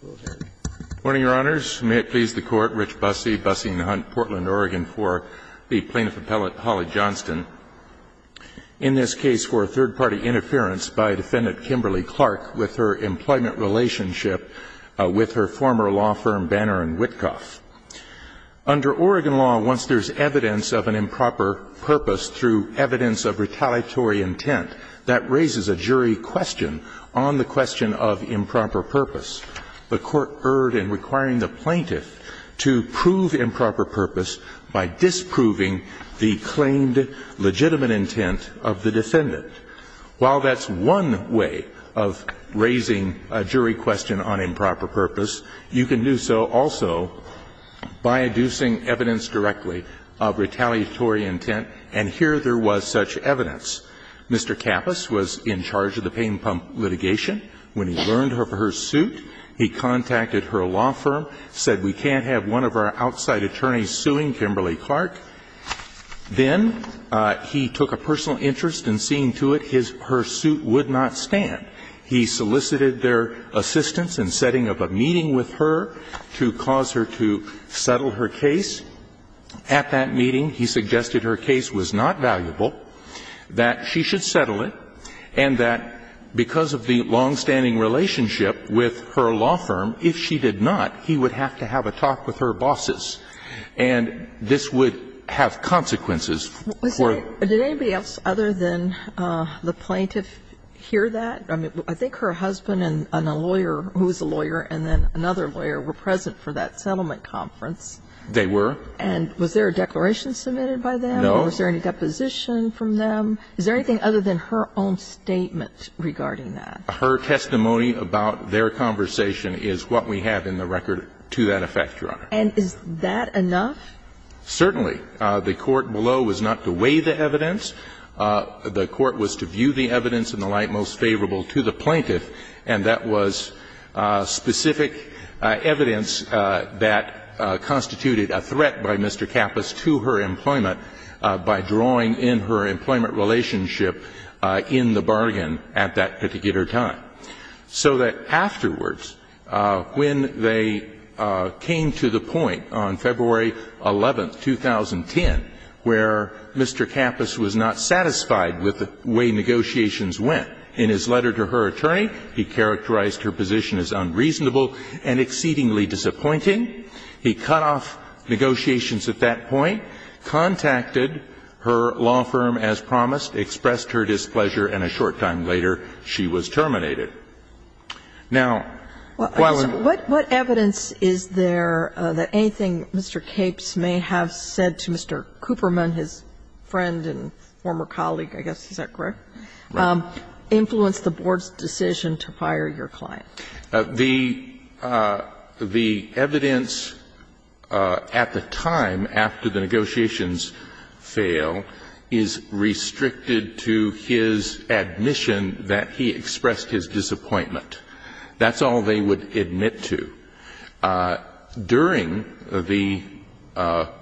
Good morning, Your Honors. May it please the Court, Rich Busse, Busse & Hunt, Portland, Oregon, for the Plaintiff Appellate, Holly Johnston, in this case for third-party interference by Defendant Kimberly-Clark with her employment relationship with her former law firm Banner & Witkoff. Under Oregon law, once there's evidence of an improper purpose through evidence of retaliatory intent, that raises a jury question on the question of improper purpose. The Court erred in requiring the plaintiff to prove improper purpose by disproving the claimed legitimate intent of the defendant. While that's one way of raising a jury question on improper purpose, you can do so also by inducing evidence directly of retaliatory intent, and here there was such evidence. Mr. Kappas was in charge of the pain pump litigation. When he learned of her suit, he contacted her law firm, said we can't have one of our outside attorneys suing Kimberly-Clark. Then he took a personal interest in seeing to it her suit would not stand. He solicited their assistance in setting up a meeting with her to cause her to settle her case. At that meeting, he suggested her case was not valuable, that she should settle it, and that because of the longstanding relationship with her law firm, if she did not, he would have to have a talk with her bosses, and this would have consequences for the plaintiff. Did anybody else other than the plaintiff hear that? I mean, I think her husband and a lawyer who was a lawyer and then another lawyer were present for that settlement at the conference. They were. And was there a declaration submitted by them? No. Was there any deposition from them? Is there anything other than her own statement regarding that? Her testimony about their conversation is what we have in the record to that effect, Your Honor. And is that enough? Certainly. The court below was not to weigh the evidence. The court was to view the evidence in the light most favorable to the plaintiff, and that was specific evidence that constituted a threat by Mr. Kappas to her employment by drawing in her employment relationship in the bargain at that particular time. So that afterwards, when they came to the point on February 11, 2010, where Mr. Kappas was not satisfied with the way negotiations went, in his letter to her attorney, he characterized her position as unreasonable and exceedingly disappointing. He cut off negotiations at that point, contacted her law firm as promised, expressed her displeasure, and a short time later she was terminated. Now, while we're at it. What evidence is there that anything Mr. Capes may have said to Mr. Cooperman, his friend and former colleague, I guess, is that correct, influenced the board's decision to fire your client? The evidence at the time, after the negotiations fail, is restricted to his admission that he expressed his disappointment. That's all they would admit to. During the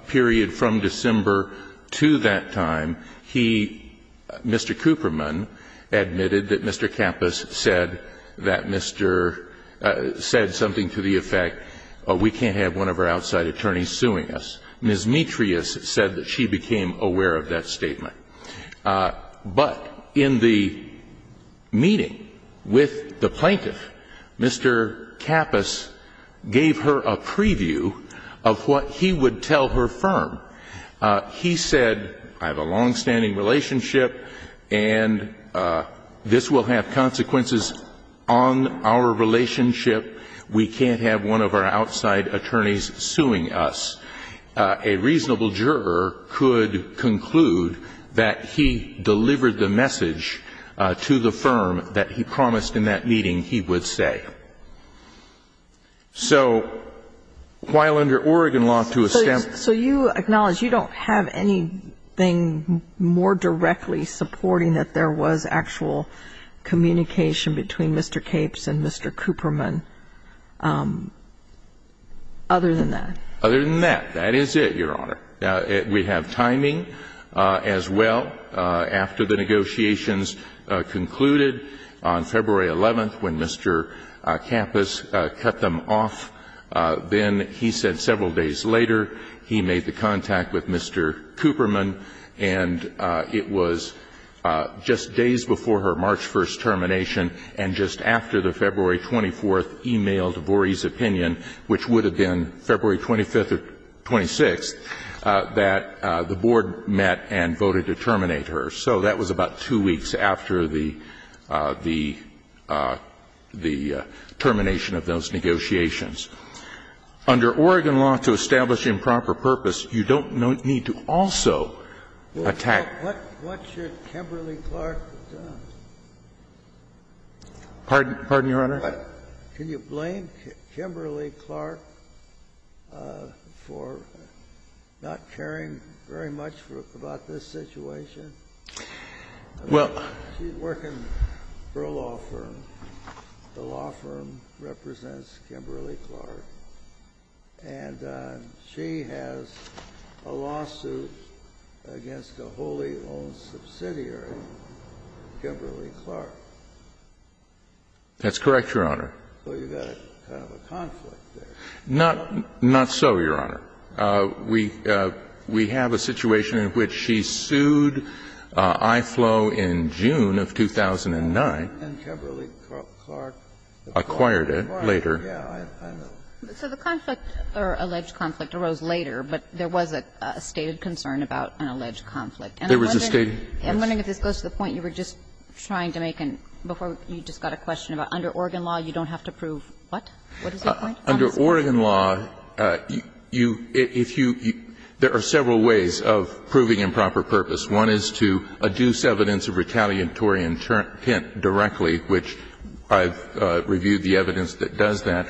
period from December to that time, he, Mr. Cooperman, admitted that Mr. Kappas said that Mr. ---- said something to the effect, we can't have one of our outside attorneys suing us. Ms. Metrius said that she became aware of that statement. But in the meeting with the plaintiff, Mr. Kappas gave her a preview of what he would tell her firm. He said, I have a longstanding relationship and this will have consequences on our relationship. We can't have one of our outside attorneys suing us. A reasonable juror could conclude that he delivered the message to the firm that he promised in that meeting he would say. So while under Oregon law to establish ---- So you acknowledge you don't have anything more directly supporting that there was actual communication between Mr. Capes and Mr. Cooperman other than that? Other than that, that is it, Your Honor. We have timing as well. After the negotiations concluded on February 11th when Mr. Kappas cut them off, then he said several days later he made the contact with Mr. Cooperman, and it was just days before her March 1st termination and just after the February 24th e-mail to Vorey's opinion, which would have been February 25th or 26th, that the board met and voted to terminate her. So that was about two weeks after the ---- the termination of those negotiations. Under Oregon law to establish improper purpose, you don't need to also attack What should Kimberly Clark do? Pardon? Pardon you, Your Honor? Can you blame Kimberly Clark for not caring very much about this situation? Well ---- She's working for a law firm. The law firm represents Kimberly Clark. And she has a lawsuit against a wholly owned subsidiary, Kimberly Clark. That's correct, Your Honor. So you've got kind of a conflict there. Not so, Your Honor. We have a situation in which she sued IFLO in June of 2009. And Kimberly Clark acquired it. Acquired it later. Yeah. So the conflict or alleged conflict arose later, but there was a stated concern about an alleged conflict. There was a stated ---- I'm wondering if this goes to the point you were just trying to make before you just got a question about under Oregon law, you don't have to prove what? What is your point? Under Oregon law, you ---- if you ---- there are several ways of proving improper purpose. One is to adduce evidence of retaliatory intent directly, which I've reviewed the evidence that does that.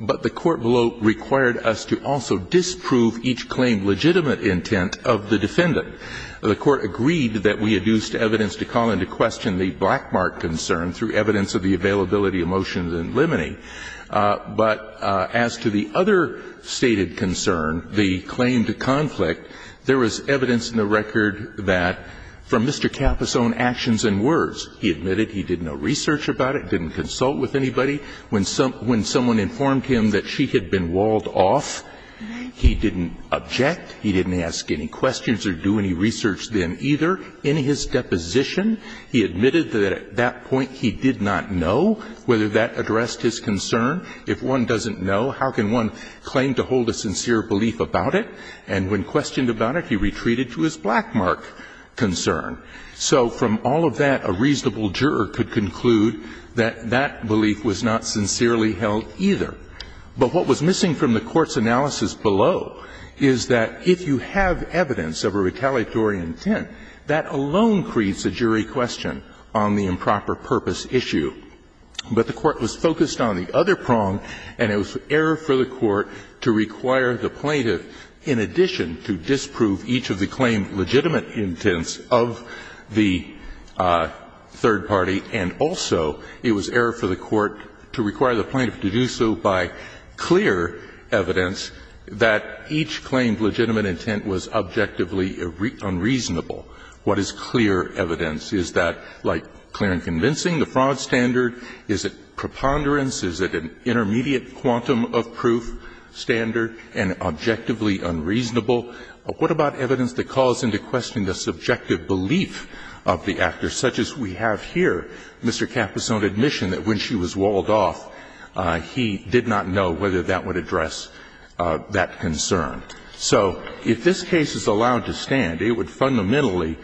But the court below required us to also disprove each claim legitimate intent of the defendant. The court agreed that we adduced evidence to call into question the black mark concern through evidence of the availability of motions in limine. But as to the other stated concern, the claim to conflict, there was evidence in the record that from Mr. Kappa's own actions and words, he admitted he did no research about it, didn't consult with anybody. When someone informed him that she had been walled off, he didn't object, he didn't ask any questions or do any research then either. In his deposition, he admitted that at that point he did not know whether that addressed his concern. If one doesn't know, how can one claim to hold a sincere belief about it? And when questioned about it, he retreated to his black mark concern. So from all of that, a reasonable juror could conclude that that belief was not sincerely held either. But what was missing from the Court's analysis below is that if you have evidence of a retaliatory intent, that alone creates a jury question on the improper-purpose issue. But the Court was focused on the other prong, and it was error for the Court to require the plaintiff, in addition to disprove each of the claim legitimate intents of the third party, and also it was error for the Court to require the plaintiff to do so by clear evidence that each claimed legitimate intent was objectively unreasonable. What is clear evidence? Is that like clear and convincing, the fraud standard? Is it preponderance? Is it an intermediate quantum of proof standard and objectively unreasonable? What about evidence that calls into question the subjective belief of the actor, such as we have here? And that's where Mr. Kappas' own admission that when she was walled off, he did not know whether that would address that concern. So if this case is allowed to stand, it would fundamentally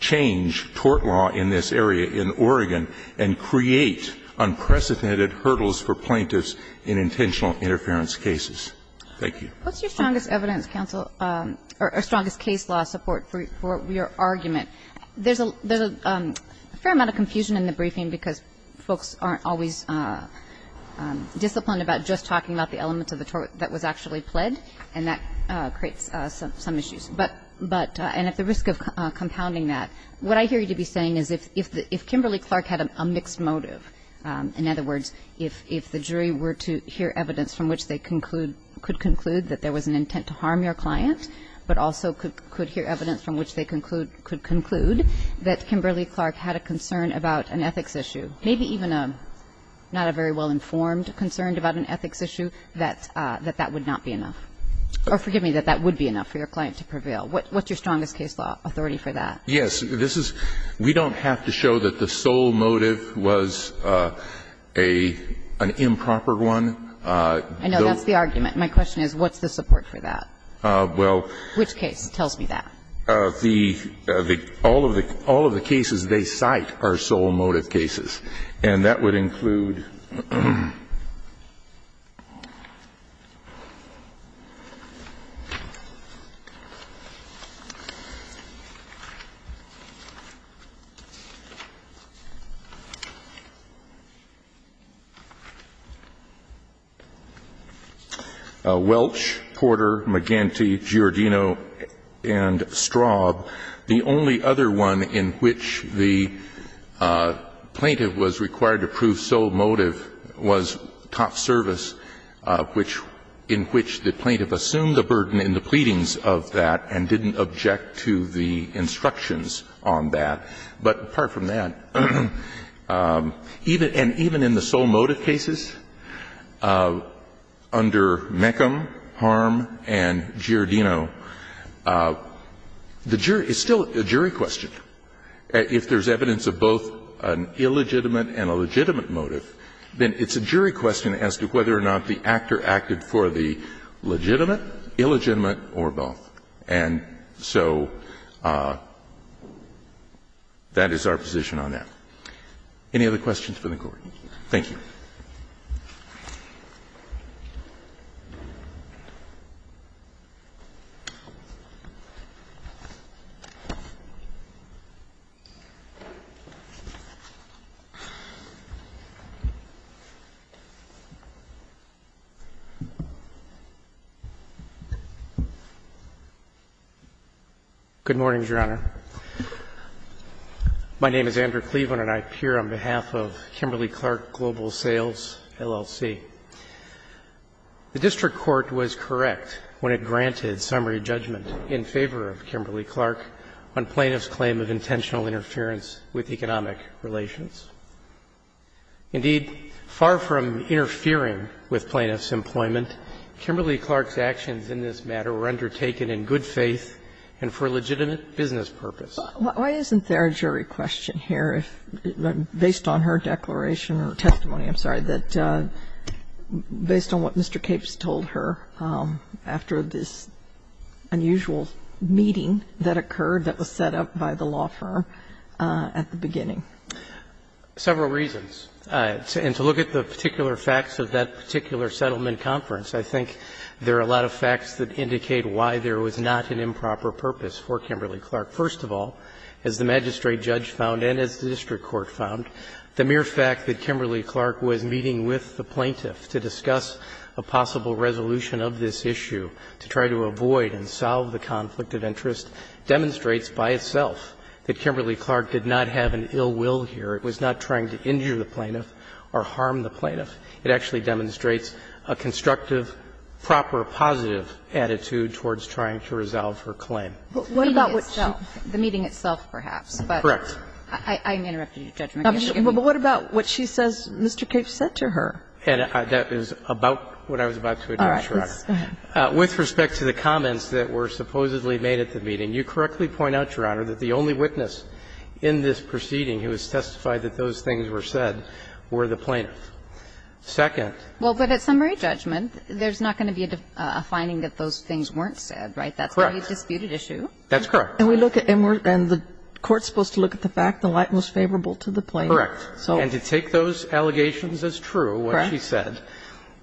change tort law in this area in Oregon and create unprecedented hurdles for plaintiffs in intentional interference cases. Thank you. What's your strongest evidence, counsel, or strongest case law support for your argument? There's a fair amount of confusion in the briefing because folks aren't always disciplined about just talking about the elements of the tort that was actually pled, and that creates some issues. But at the risk of compounding that, what I hear you to be saying is if Kimberly Clark had a mixed motive, in other words, if the jury were to hear evidence from which they could conclude that there was an intent to harm your client, but also could hear evidence from which they could conclude that Kimberly Clark had a concern about an ethics issue, maybe even not a very well-informed concern about an ethics issue, that that would not be enough. Or forgive me, that that would be enough for your client to prevail. What's your strongest case law authority for that? Yes. This is we don't have to show that the sole motive was an improper one. I know. That's the argument. My question is what's the support for that? Well. Which case tells me that? The the all of the all of the cases they cite are sole motive cases, and that would include Welch, Porter, McGinty, Giordino, and Straub. The only other one in which the plaintiff was required to prove sole motive was Toff Service, which in which the plaintiff assumed the burden in the pleadings of that and didn't object to the instructions on that. But apart from that, even and even in the sole motive cases, under Meckham, Harm, and Giordino, the jury is still a jury question. If there's evidence of both an illegitimate and a legitimate motive, then it's a jury question as to whether or not the actor acted for the legitimate, illegitimate, or both. And so that is our position on that. Any other questions for the Court? Thank you. Good morning, Your Honor. My name is Andrew Cleveland, and I appear on behalf of Kimberly-Clark Global Sales LLC. The district court was correct when it granted summary judgment in favor of Kimberly-Clark on plaintiff's claim of intentional interference with economic relations. Indeed, far from interfering with plaintiff's employment, Kimberly-Clark's Why isn't there a jury question here if, based on her declaration or testimony, I'm sorry, that, based on what Mr. Capes told her after this unusual meeting that occurred that was set up by the law firm at the beginning? Several reasons. And to look at the particular facts of that particular settlement conference, I think there are a lot of facts that indicate why there was not an improper purpose for Kimberly-Clark. First of all, as the magistrate judge found and as the district court found, the mere fact that Kimberly-Clark was meeting with the plaintiff to discuss a possible resolution of this issue, to try to avoid and solve the conflict of interest, demonstrates by itself that Kimberly-Clark did not have an ill will here. It was not trying to injure the plaintiff or harm the plaintiff. It actually demonstrates a constructive, proper, positive attitude towards trying to resolve her claim. But what about what she said? The meeting itself, perhaps, but I'm interrupting your judgment. But what about what she says Mr. Capes said to her? And that is about what I was about to address, Your Honor. All right. Go ahead. With respect to the comments that were supposedly made at the meeting, you correctly point out, Your Honor, that the only witness in this proceeding who has testified that those things were said were the plaintiff. Second. Well, but at summary judgment, there's not going to be a finding that those things weren't said, right? Correct. That's the only disputed issue. That's correct. And we look at the court's supposed to look at the fact the light was favorable to the plaintiff. Correct. And to take those allegations as true, what she said,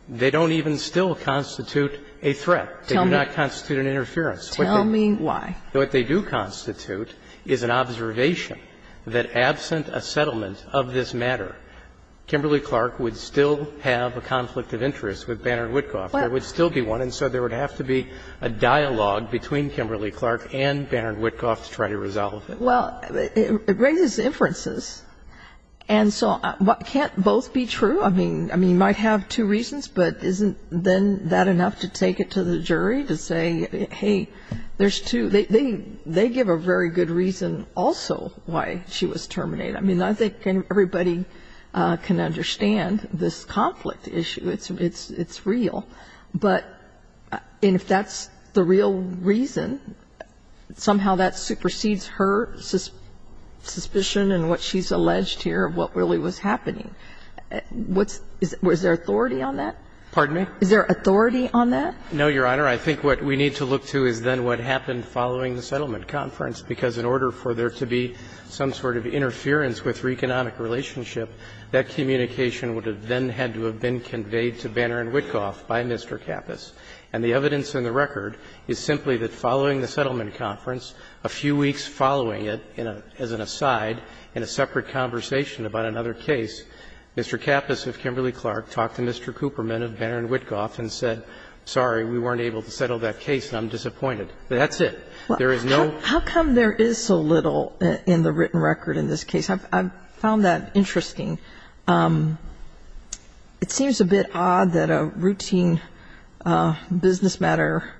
they don't even still constitute a threat. They do not constitute an interference. Tell me why. What they do constitute is an observation that absent a settlement of this matter, Kimberly-Clark would still have a conflict of interest with Banner and Witkoff. There would still be one. And so there would have to be a dialogue between Kimberly-Clark and Banner and Witkoff to try to resolve it. Well, it raises inferences. And so can't both be true? I mean, you might have two reasons, but isn't then that enough to take it to the jury to say, hey, there's two? They give a very good reason also why she was terminated. I mean, I think everybody can understand this conflict issue. It's real. But if that's the real reason, somehow that supersedes her suspicion and what she's alleged here of what really was happening. What's their authority on that? Pardon me? Is there authority on that? No, Your Honor. I think what we need to look to is then what happened following the settlement conference, because in order for there to be some sort of interference with her economic relationship, that communication would have then had to have been conveyed to Banner and Witkoff by Mr. Kappas. And the evidence in the record is simply that following the settlement conference, a few weeks following it, as an aside, in a separate conversation about another case, Mr. Kappas of Kimberly-Clark talked to Mr. Cooperman of Banner and Witkoff and said, sorry, we weren't able to settle that case and I'm disappointed. That's it. There is no other reason. How come there is so little in the written record in this case? I've found that interesting. It seems a bit odd that a routine business matter,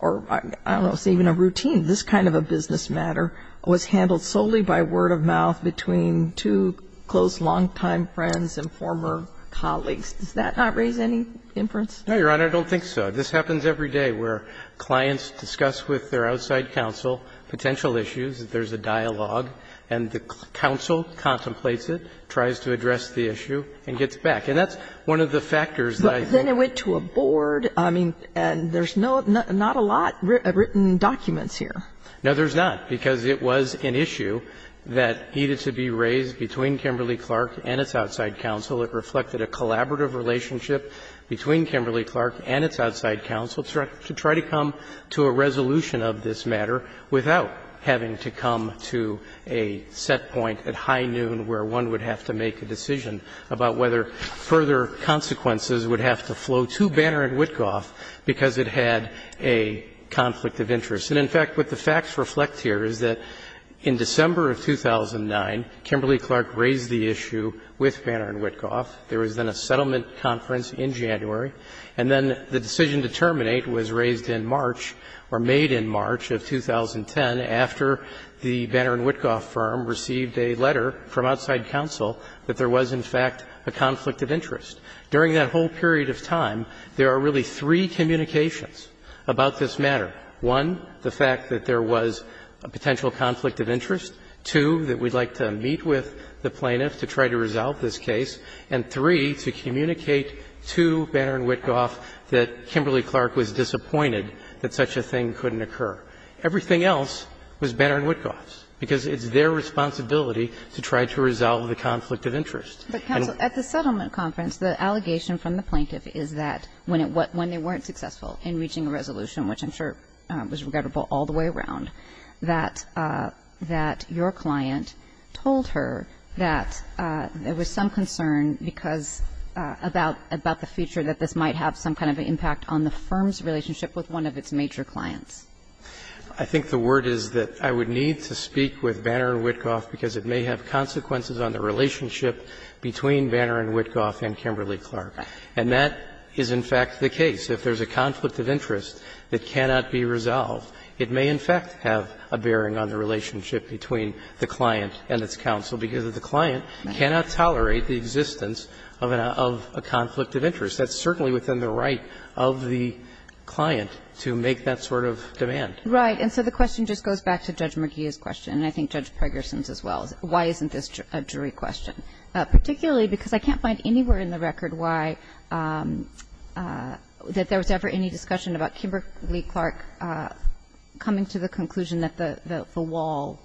or I don't know, say even a routine, this kind of a business matter was handled solely by word of mouth between two close longtime friends and former colleagues. Does that not raise any inference? No, Your Honor, I don't think so. This happens every day where clients discuss with their outside counsel potential issues, there's a dialogue, and the counsel contemplates it, tries to address the issue, and gets back. And that's one of the factors that I think goes with it. But then it went to a board, I mean, and there's not a lot of written documents here. No, there's not, because it was an issue that needed to be raised between Kimberly-Clark and its outside counsel. It reflected a collaborative relationship between Kimberly-Clark and its outside counsel to try to come to a resolution of this matter without having to come to a set point at high noon where one would have to make a decision about whether further consequences would have to flow to Banner and Witkoff because it had a conflict of interest. And in fact, what the facts reflect here is that in December of 2009, Kimberly-Clark raised the issue with Banner and Witkoff. There was then a settlement conference in January. And then the decision to terminate was raised in March, or made in March of 2010, after the Banner and Witkoff firm received a letter from outside counsel that there was, in fact, a conflict of interest. During that whole period of time, there are really three communications about this matter. One, the fact that there was a potential conflict of interest. Two, that we'd like to meet with the plaintiffs to try to resolve this case. And three, to communicate to Banner and Witkoff that Kimberly-Clark was disappointed that such a thing couldn't occur. Everything else was Banner and Witkoff's, because it's their responsibility to try to resolve the conflict of interest. And we're not going to do that. But, counsel, at the settlement conference, the allegation from the plaintiff is that when they weren't successful in reaching a resolution, which I'm sure was forgettable all the way around, that your client told her that there was some concern because about the future, that this might have some kind of an impact on the firm's relationship with one of its major clients. I think the word is that I would need to speak with Banner and Witkoff, because it may have consequences on the relationship between Banner and Witkoff and Kimberly-Clark. And that is, in fact, the case. If there's a conflict of interest that cannot be resolved, it may, in fact, have a bearing on the relationship between the client and its counsel, because the client cannot tolerate the existence of a conflict of interest. That's certainly within the right of the client to make that sort of demand. Right. And so the question just goes back to Judge McGeeh's question, and I think Judge Pregerson's as well, why isn't this a jury question, particularly because I can't find anywhere in the record why that there was ever any discussion about Kimberly-Clark coming to the conclusion that the wall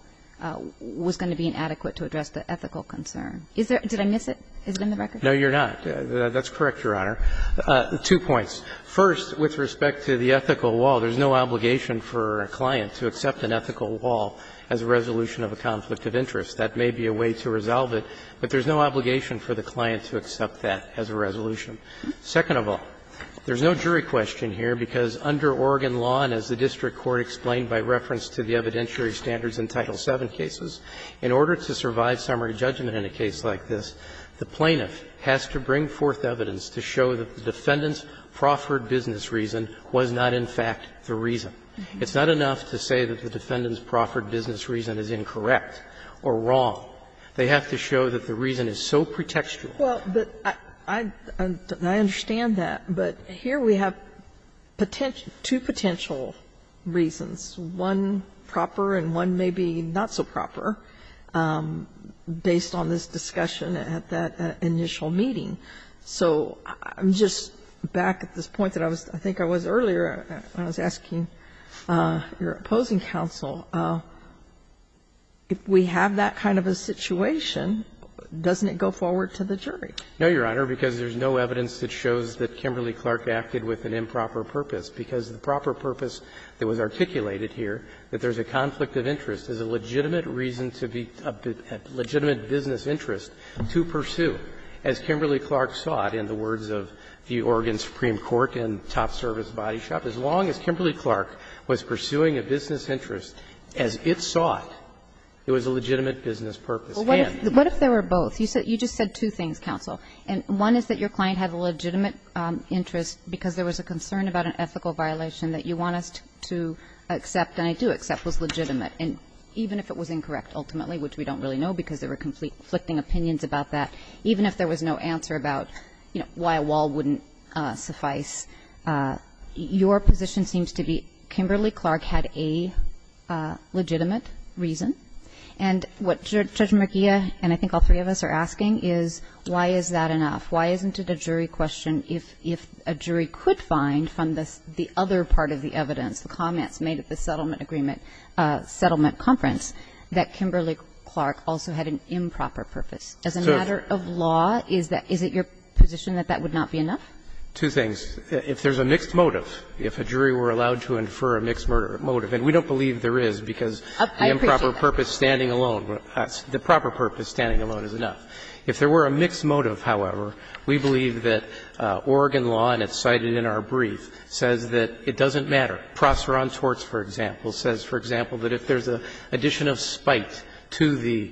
was going to be inadequate to address the ethical concern. Is there – did I miss it? Is it in the record? No, Your Honor. That's correct, Your Honor. Two points. First, with respect to the ethical wall, there's no obligation for a client to accept an ethical wall as a resolution of a conflict of interest. That may be a way to resolve it, but there's no obligation for the client to accept that as a resolution. Second of all, there's no jury question here, because under Oregon law, and as the district court explained by reference to the evidentiary standards in Title VII cases, in order to survive summary judgment in a case like this, the plaintiff has to bring forth evidence to show that the defendant's proffered business reason was not, in fact, the reason. It's not enough to say that the defendant's proffered business reason is incorrect or wrong. They have to show that the reason is so pretextual. Well, but I understand that, but here we have two potential reasons, one proper and one maybe not so proper, based on this discussion at that initial meeting. So I'm just back at this point that I was – I think I was earlier when I was asking your opposing counsel, if we have that kind of a situation, doesn't it go forward to the jury? No, Your Honor, because there's no evidence that shows that Kimberly-Clark acted with an improper purpose, because the proper purpose that was articulated here, that there's a conflict of interest, is a legitimate reason to be a legitimate business interest to pursue. As Kimberly-Clark sought, in the words of the Oregon Supreme Court in Top Service Body Shop, as long as Kimberly-Clark was pursuing a business interest as it sought, it was a legitimate business purpose. What if there were both? You just said two things, counsel. One is that your client had a legitimate interest because there was a concern about an ethical violation that you want us to accept, and I do accept was legitimate. And even if it was incorrect, ultimately, which we don't really know, because there were conflicting opinions about that, even if there was no answer about, you know, your position seems to be Kimberly-Clark had a legitimate reason. And what Judge McGeer and I think all three of us are asking is, why is that enough? Why isn't it a jury question if a jury could find from the other part of the evidence, the comments made at the settlement agreement, settlement conference, that Kimberly-Clark also had an improper purpose? As a matter of law, is it your position that that would not be enough? Two things. If there's a mixed motive, if a jury were allowed to infer a mixed motive, and we don't believe there is because the improper purpose standing alone, the proper purpose standing alone is enough. If there were a mixed motive, however, we believe that Oregon law, and it's cited in our brief, says that it doesn't matter. Prosseur on torts, for example, says, for example, that if there's an addition of spite to the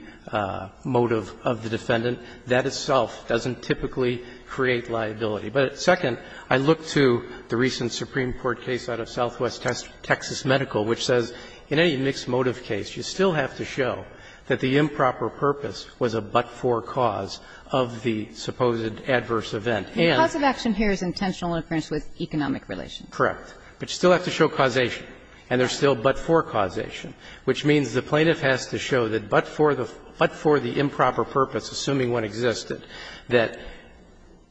motive of the defendant, that itself doesn't typically create liability. But second, I look to the recent Supreme Court case out of Southwest Texas Medical, which says in any mixed motive case, you still have to show that the improper purpose was a but-for cause of the supposed adverse event. And the cause of action here is intentional interference with economic relations. Correct. But you still have to show causation, and there's still but-for causation, which means the plaintiff has to show that but for the improper purpose, assuming one existed, that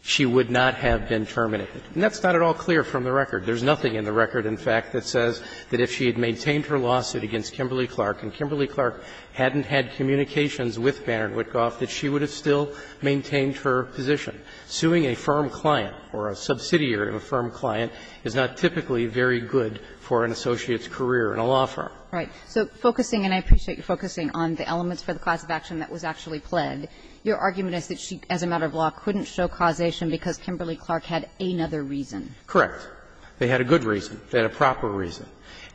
she would not have been terminated. And that's not at all clear from the record. There's nothing in the record, in fact, that says that if she had maintained her lawsuit against Kimberly-Clark and Kimberly-Clark hadn't had communications with Banner and Witkoff, that she would have still maintained her position. Suing a firm client or a subsidiary of a firm client is not typically very good for an associate's career in a law firm. Right. So focusing, and I appreciate you focusing on the elements for the cause of action that was actually pled, your argument is that she, as a matter of law, couldn't show causation because Kimberly-Clark had another reason. Correct. They had a good reason. They had a proper reason.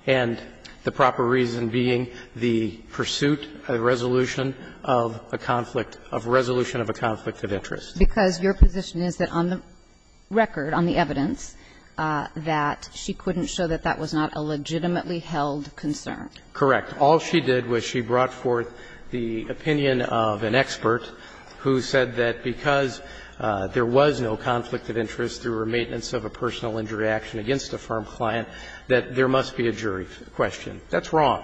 And the proper reason being the pursuit, a resolution of a conflict, of a resolution of a conflict of interest. Because your position is that on the record, on the evidence, that she couldn't show that that was not a legitimately held concern. Correct. All she did was she brought forth the opinion of an expert who said that because there was no conflict of interest through her maintenance of a personal injury action against a firm client, that there must be a jury question. That's wrong.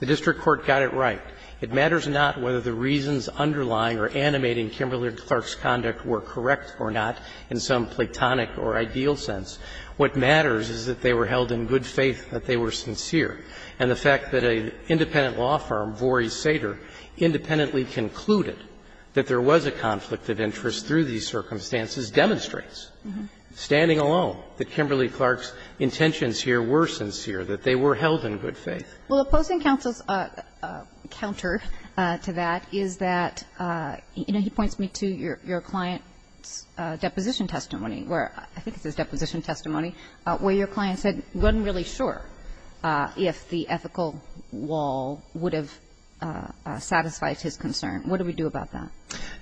The district court got it right. It matters not whether the reasons underlying or animating Kimberly-Clark's conduct were correct or not in some platonic or ideal sense. What matters is that they were held in good faith, that they were sincere. And the fact that an independent law firm, Vorey Sater, independently concluded that there was a conflict of interest through these circumstances demonstrates, standing alone, that Kimberly-Clark's intentions here were sincere, that they were held in good faith. Well, opposing counsel's counter to that is that, you know, he points me to your client's deposition testimony, where I think it says deposition testimony, where your client said he wasn't really sure if the ethical wall would have satisfied his concern. What do we do about that?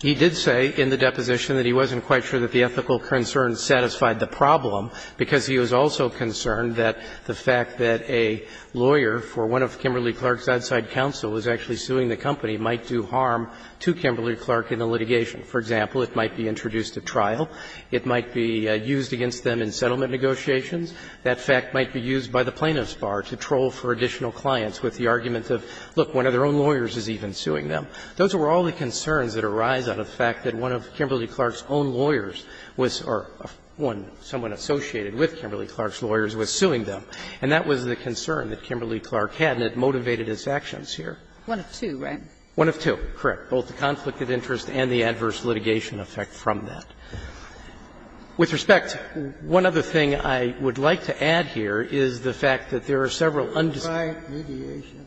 He did say in the deposition that he wasn't quite sure that the ethical concern satisfied the problem, because he was also concerned that the fact that a lawyer for one of Kimberly-Clark's outside counsel was actually suing the company might do harm to Kimberly-Clark in the litigation. For example, it might be introduced at trial. It might be used against them in settlement negotiations. That fact might be used by the plaintiff's bar to troll for additional clients with the argument of, look, one of their own lawyers is even suing them. Those were all the concerns that arise out of the fact that one of Kimberly-Clark's own lawyers was or someone associated with Kimberly-Clark's lawyers was suing them. And that was the concern that Kimberly-Clark had, and it motivated his actions here. Ginsburg. One of two, right? One of two, correct, both the conflict of interest and the adverse litigation effect from that. With respect, one other thing I would like to add here is the fact that there are several undisputed Was mediation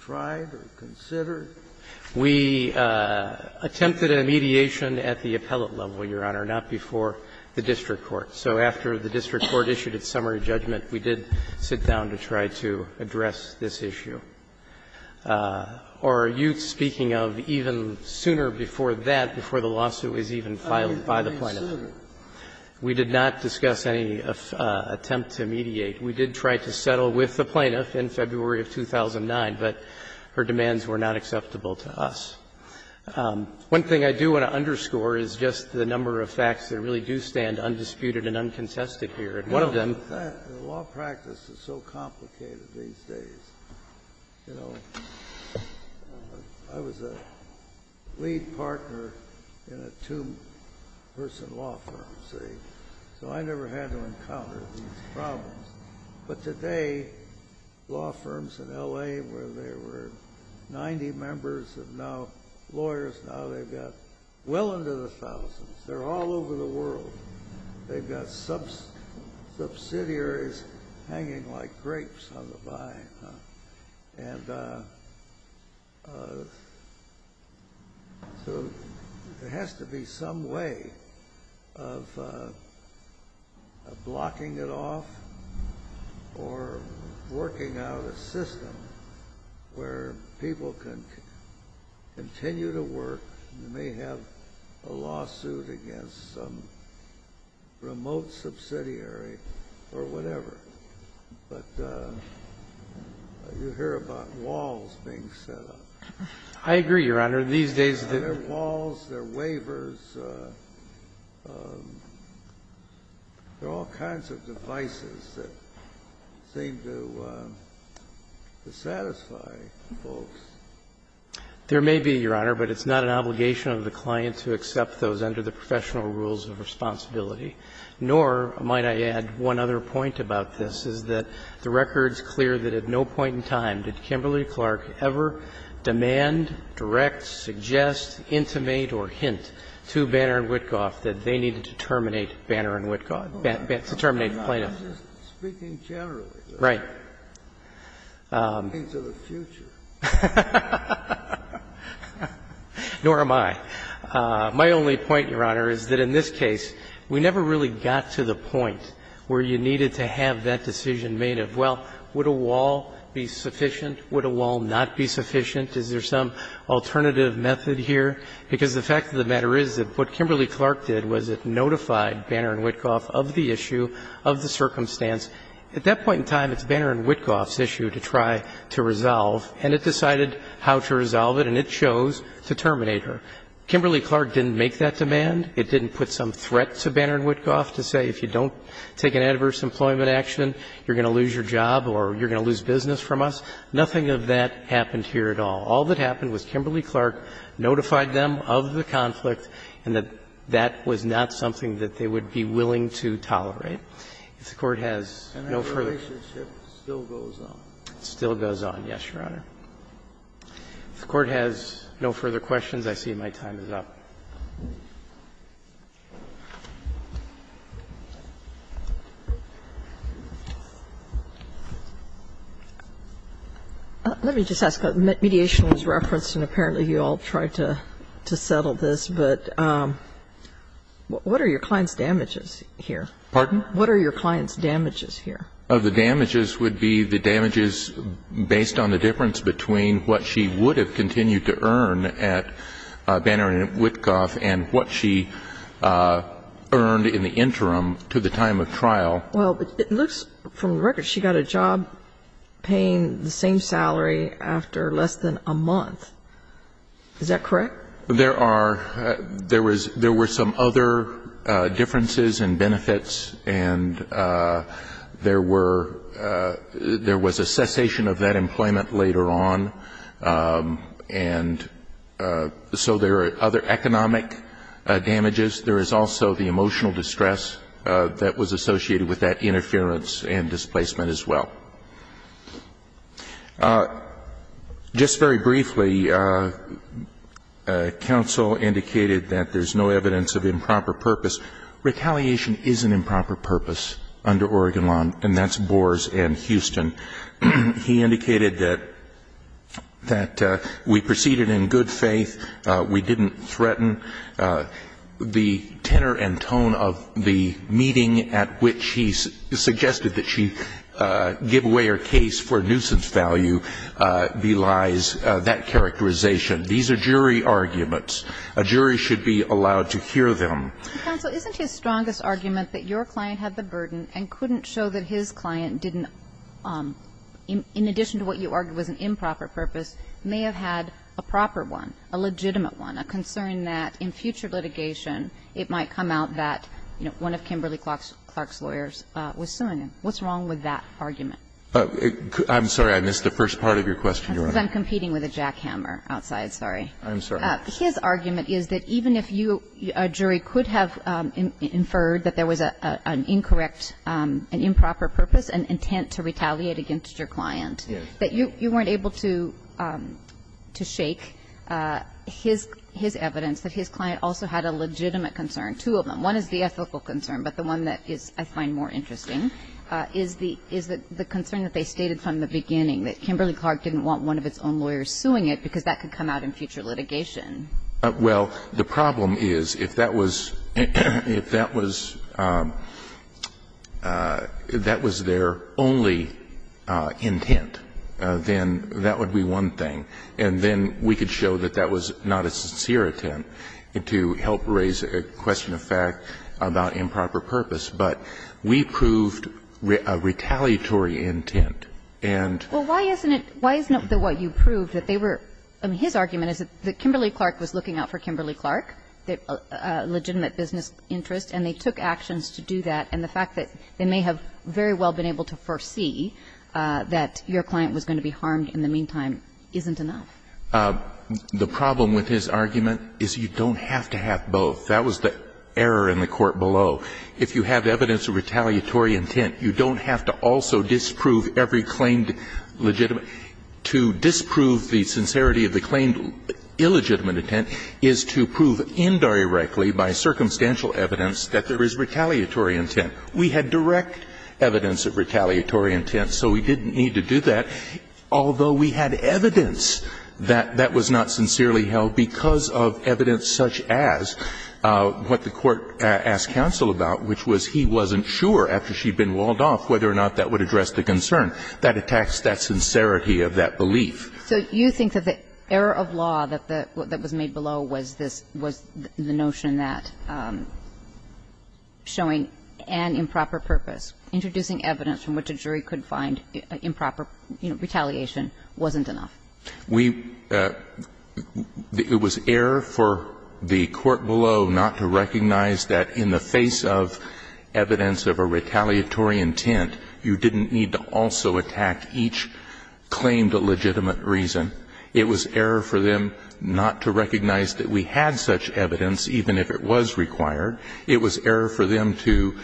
tried or considered? We attempted a mediation at the appellate level, Your Honor, not before the district court. So after the district court issued its summary judgment, we did sit down to try to address this issue. Or are you speaking of even sooner before that, before the lawsuit was even filed by the plaintiff? We did not discuss any attempt to mediate. We did try to settle with the plaintiff in February of 2009, but her demands were not acceptable to us. One thing I do want to underscore is just the number of facts that really do stand undisputed and uncontested here. And one of them is the fact that the law practice is so complicated these days. You know, I was a lead partner in a two-person law firm, see, so I never had to encounter these problems. But today, law firms in L.A. where there were 90 members of now lawyers, now they've got well into the thousands. They're all over the world. They've got subsidiaries hanging like grapes on the vine. And so there has to be some way of blocking it off or working out a system where people can continue to work. You may have a lawsuit against some remote subsidiary or whatever, but you hear about walls being set up. I agree, Your Honor. These days, the walls, their waivers, there are all kinds of devices that seem to satisfy folks. There may be, Your Honor, but it's not an obligation of the client to accept those under the professional rules of responsibility. Nor, might I add, one other point about this is that the record's clear that at no point in time did Kimberly-Clark ever demand, direct, suggest, intimate or hint to Banner and Witkoff that they needed to terminate Banner and Witkoff, to terminate Plano. Right. Nor am I. My only point, Your Honor, is that in this case, we never really got to the point where you needed to have that decision made of, well, would a wall be sufficient? Would a wall not be sufficient? Is there some alternative method here? Because the fact of the matter is that what Kimberly-Clark did was it notified Banner and Witkoff of the issue, of the circumstance. At that point in time, it's Banner and Witkoff's issue to try to resolve, and it decided how to resolve it, and it chose to terminate her. Kimberly-Clark didn't make that demand. It didn't put some threat to Banner and Witkoff to say, if you don't take an adverse employment action, you're going to lose your job or you're going to lose business from us. Nothing of that happened here at all. All that happened was Kimberly-Clark notified them of the conflict and that that was not something that they would be willing to tolerate. If the Court has no further questions. Breyer, and that relationship still goes on. It still goes on, yes, Your Honor. If the Court has no further questions, I see my time is up. Let me just ask, mediation was referenced and apparently you all tried to settle this, but what are your client's damages here? Pardon? What are your client's damages here? The damages would be the damages based on the difference between what she would have continued to earn at Banner and Witkoff and what she earned in the interim to the time of trial. Well, it looks from the record she got a job paying the same salary after less than a month. Is that correct? There were some other differences in benefits and there was a cessation of that employment later on, and so there are other economic damages. There is also the emotional distress that was associated with that interference and displacement as well. Just very briefly, counsel indicated that there is no evidence of improper purpose. Retaliation is an improper purpose under Oregon law, and that's Boers and Houston. He indicated that we proceeded in good faith, we didn't threaten. The tenor and tone of the meeting at which he suggested that she get a job, that she give away her case for nuisance value belies that characterization. These are jury arguments. A jury should be allowed to hear them. Counsel, isn't his strongest argument that your client had the burden and couldn't show that his client didn't, in addition to what you argued was an improper purpose, may have had a proper one, a legitimate one, a concern that in future litigation it might come out that one of Kimberly Clark's lawyers was suing him. What's wrong with that argument? I'm sorry. I missed the first part of your question, Your Honor. I'm competing with a jackhammer outside. Sorry. I'm sorry. His argument is that even if you, a jury, could have inferred that there was an incorrect and improper purpose, an intent to retaliate against your client, that you weren't able to shake his evidence that his client also had a legitimate concern, two of them. One is the ethical concern, but the one that is, I find, more interesting. Is the concern that they stated from the beginning, that Kimberly Clark didn't want one of its own lawyers suing it because that could come out in future litigation. Well, the problem is, if that was their only intent, then that would be one thing. And then we could show that that was not a sincere intent to help raise a question of fact about improper purpose. But we proved a retaliatory intent. And why isn't it, why isn't it that what you proved that they were, I mean, his argument is that Kimberly Clark was looking out for Kimberly Clark, a legitimate business interest, and they took actions to do that. And the fact that they may have very well been able to foresee that your client was going to be harmed in the meantime isn't enough. The problem with his argument is you don't have to have both. That was the error in the court below. If you have evidence of retaliatory intent, you don't have to also disprove every claimed legitimate. To disprove the sincerity of the claimed illegitimate intent is to prove indirectly by circumstantial evidence that there is retaliatory intent. We had direct evidence of retaliatory intent, so we didn't need to do that, although we had evidence that that was not sincerely held because of evidence such as what the court asked counsel about, which was he wasn't sure after she'd been walled off whether or not that would address the concern. That attacks that sincerity of that belief. So you think that the error of law that was made below was this, was the notion that showing an improper purpose, introducing evidence from which a jury could find improper, you know, retaliation wasn't enough? We – it was error for the court below not to recognize that in the face of evidence of a retaliatory intent, you didn't need to also attack each claimed legitimate reason. It was error for them not to recognize that we had such evidence, even if it was required. It was error for them to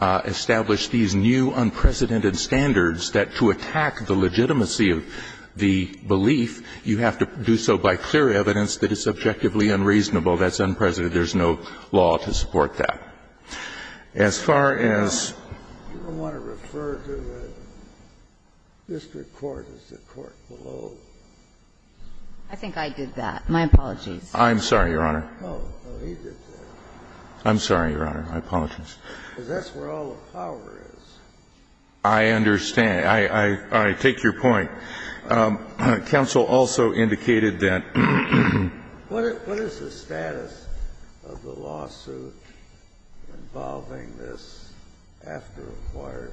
establish these new unprecedented standards that to attack the legitimacy of the belief, you have to do so by clear evidence that is subjectively unreasonable. That's unprecedented. There's no law to support that. As far as the court below. I think I did that. My apologies. I'm sorry, Your Honor. I'm sorry, Your Honor. I apologize. Because that's where all the power is. I understand. I take your point. Counsel also indicated that. What is the status of the lawsuit involving this after acquired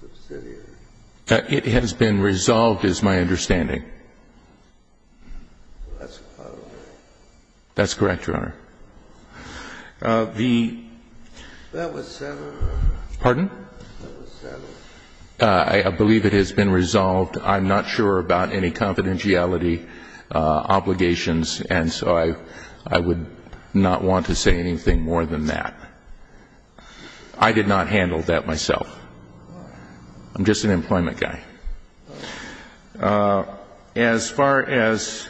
subsidiary? It has been resolved is my understanding. That's correct, Your Honor. The. That was Senator. Pardon? I believe it has been resolved. I'm not sure about any confidentiality obligations. And so I would not want to say anything more than that. I did not handle that myself. I'm just an employment guy. As far as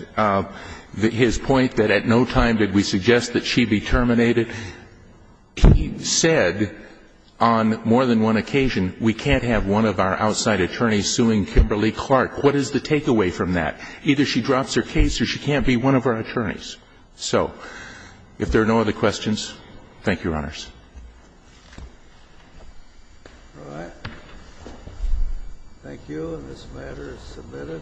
his point that at no time did we suggest that she be terminated, he said on more than one occasion that she should be terminated. On more than one occasion, we can't have one of our outside attorneys suing Kimberly-Clark. What is the takeaway from that? Either she drops her case or she can't be one of our attorneys. So, if there are no other questions, thank you, Your Honors. All right, thank you, and this matter is submitted.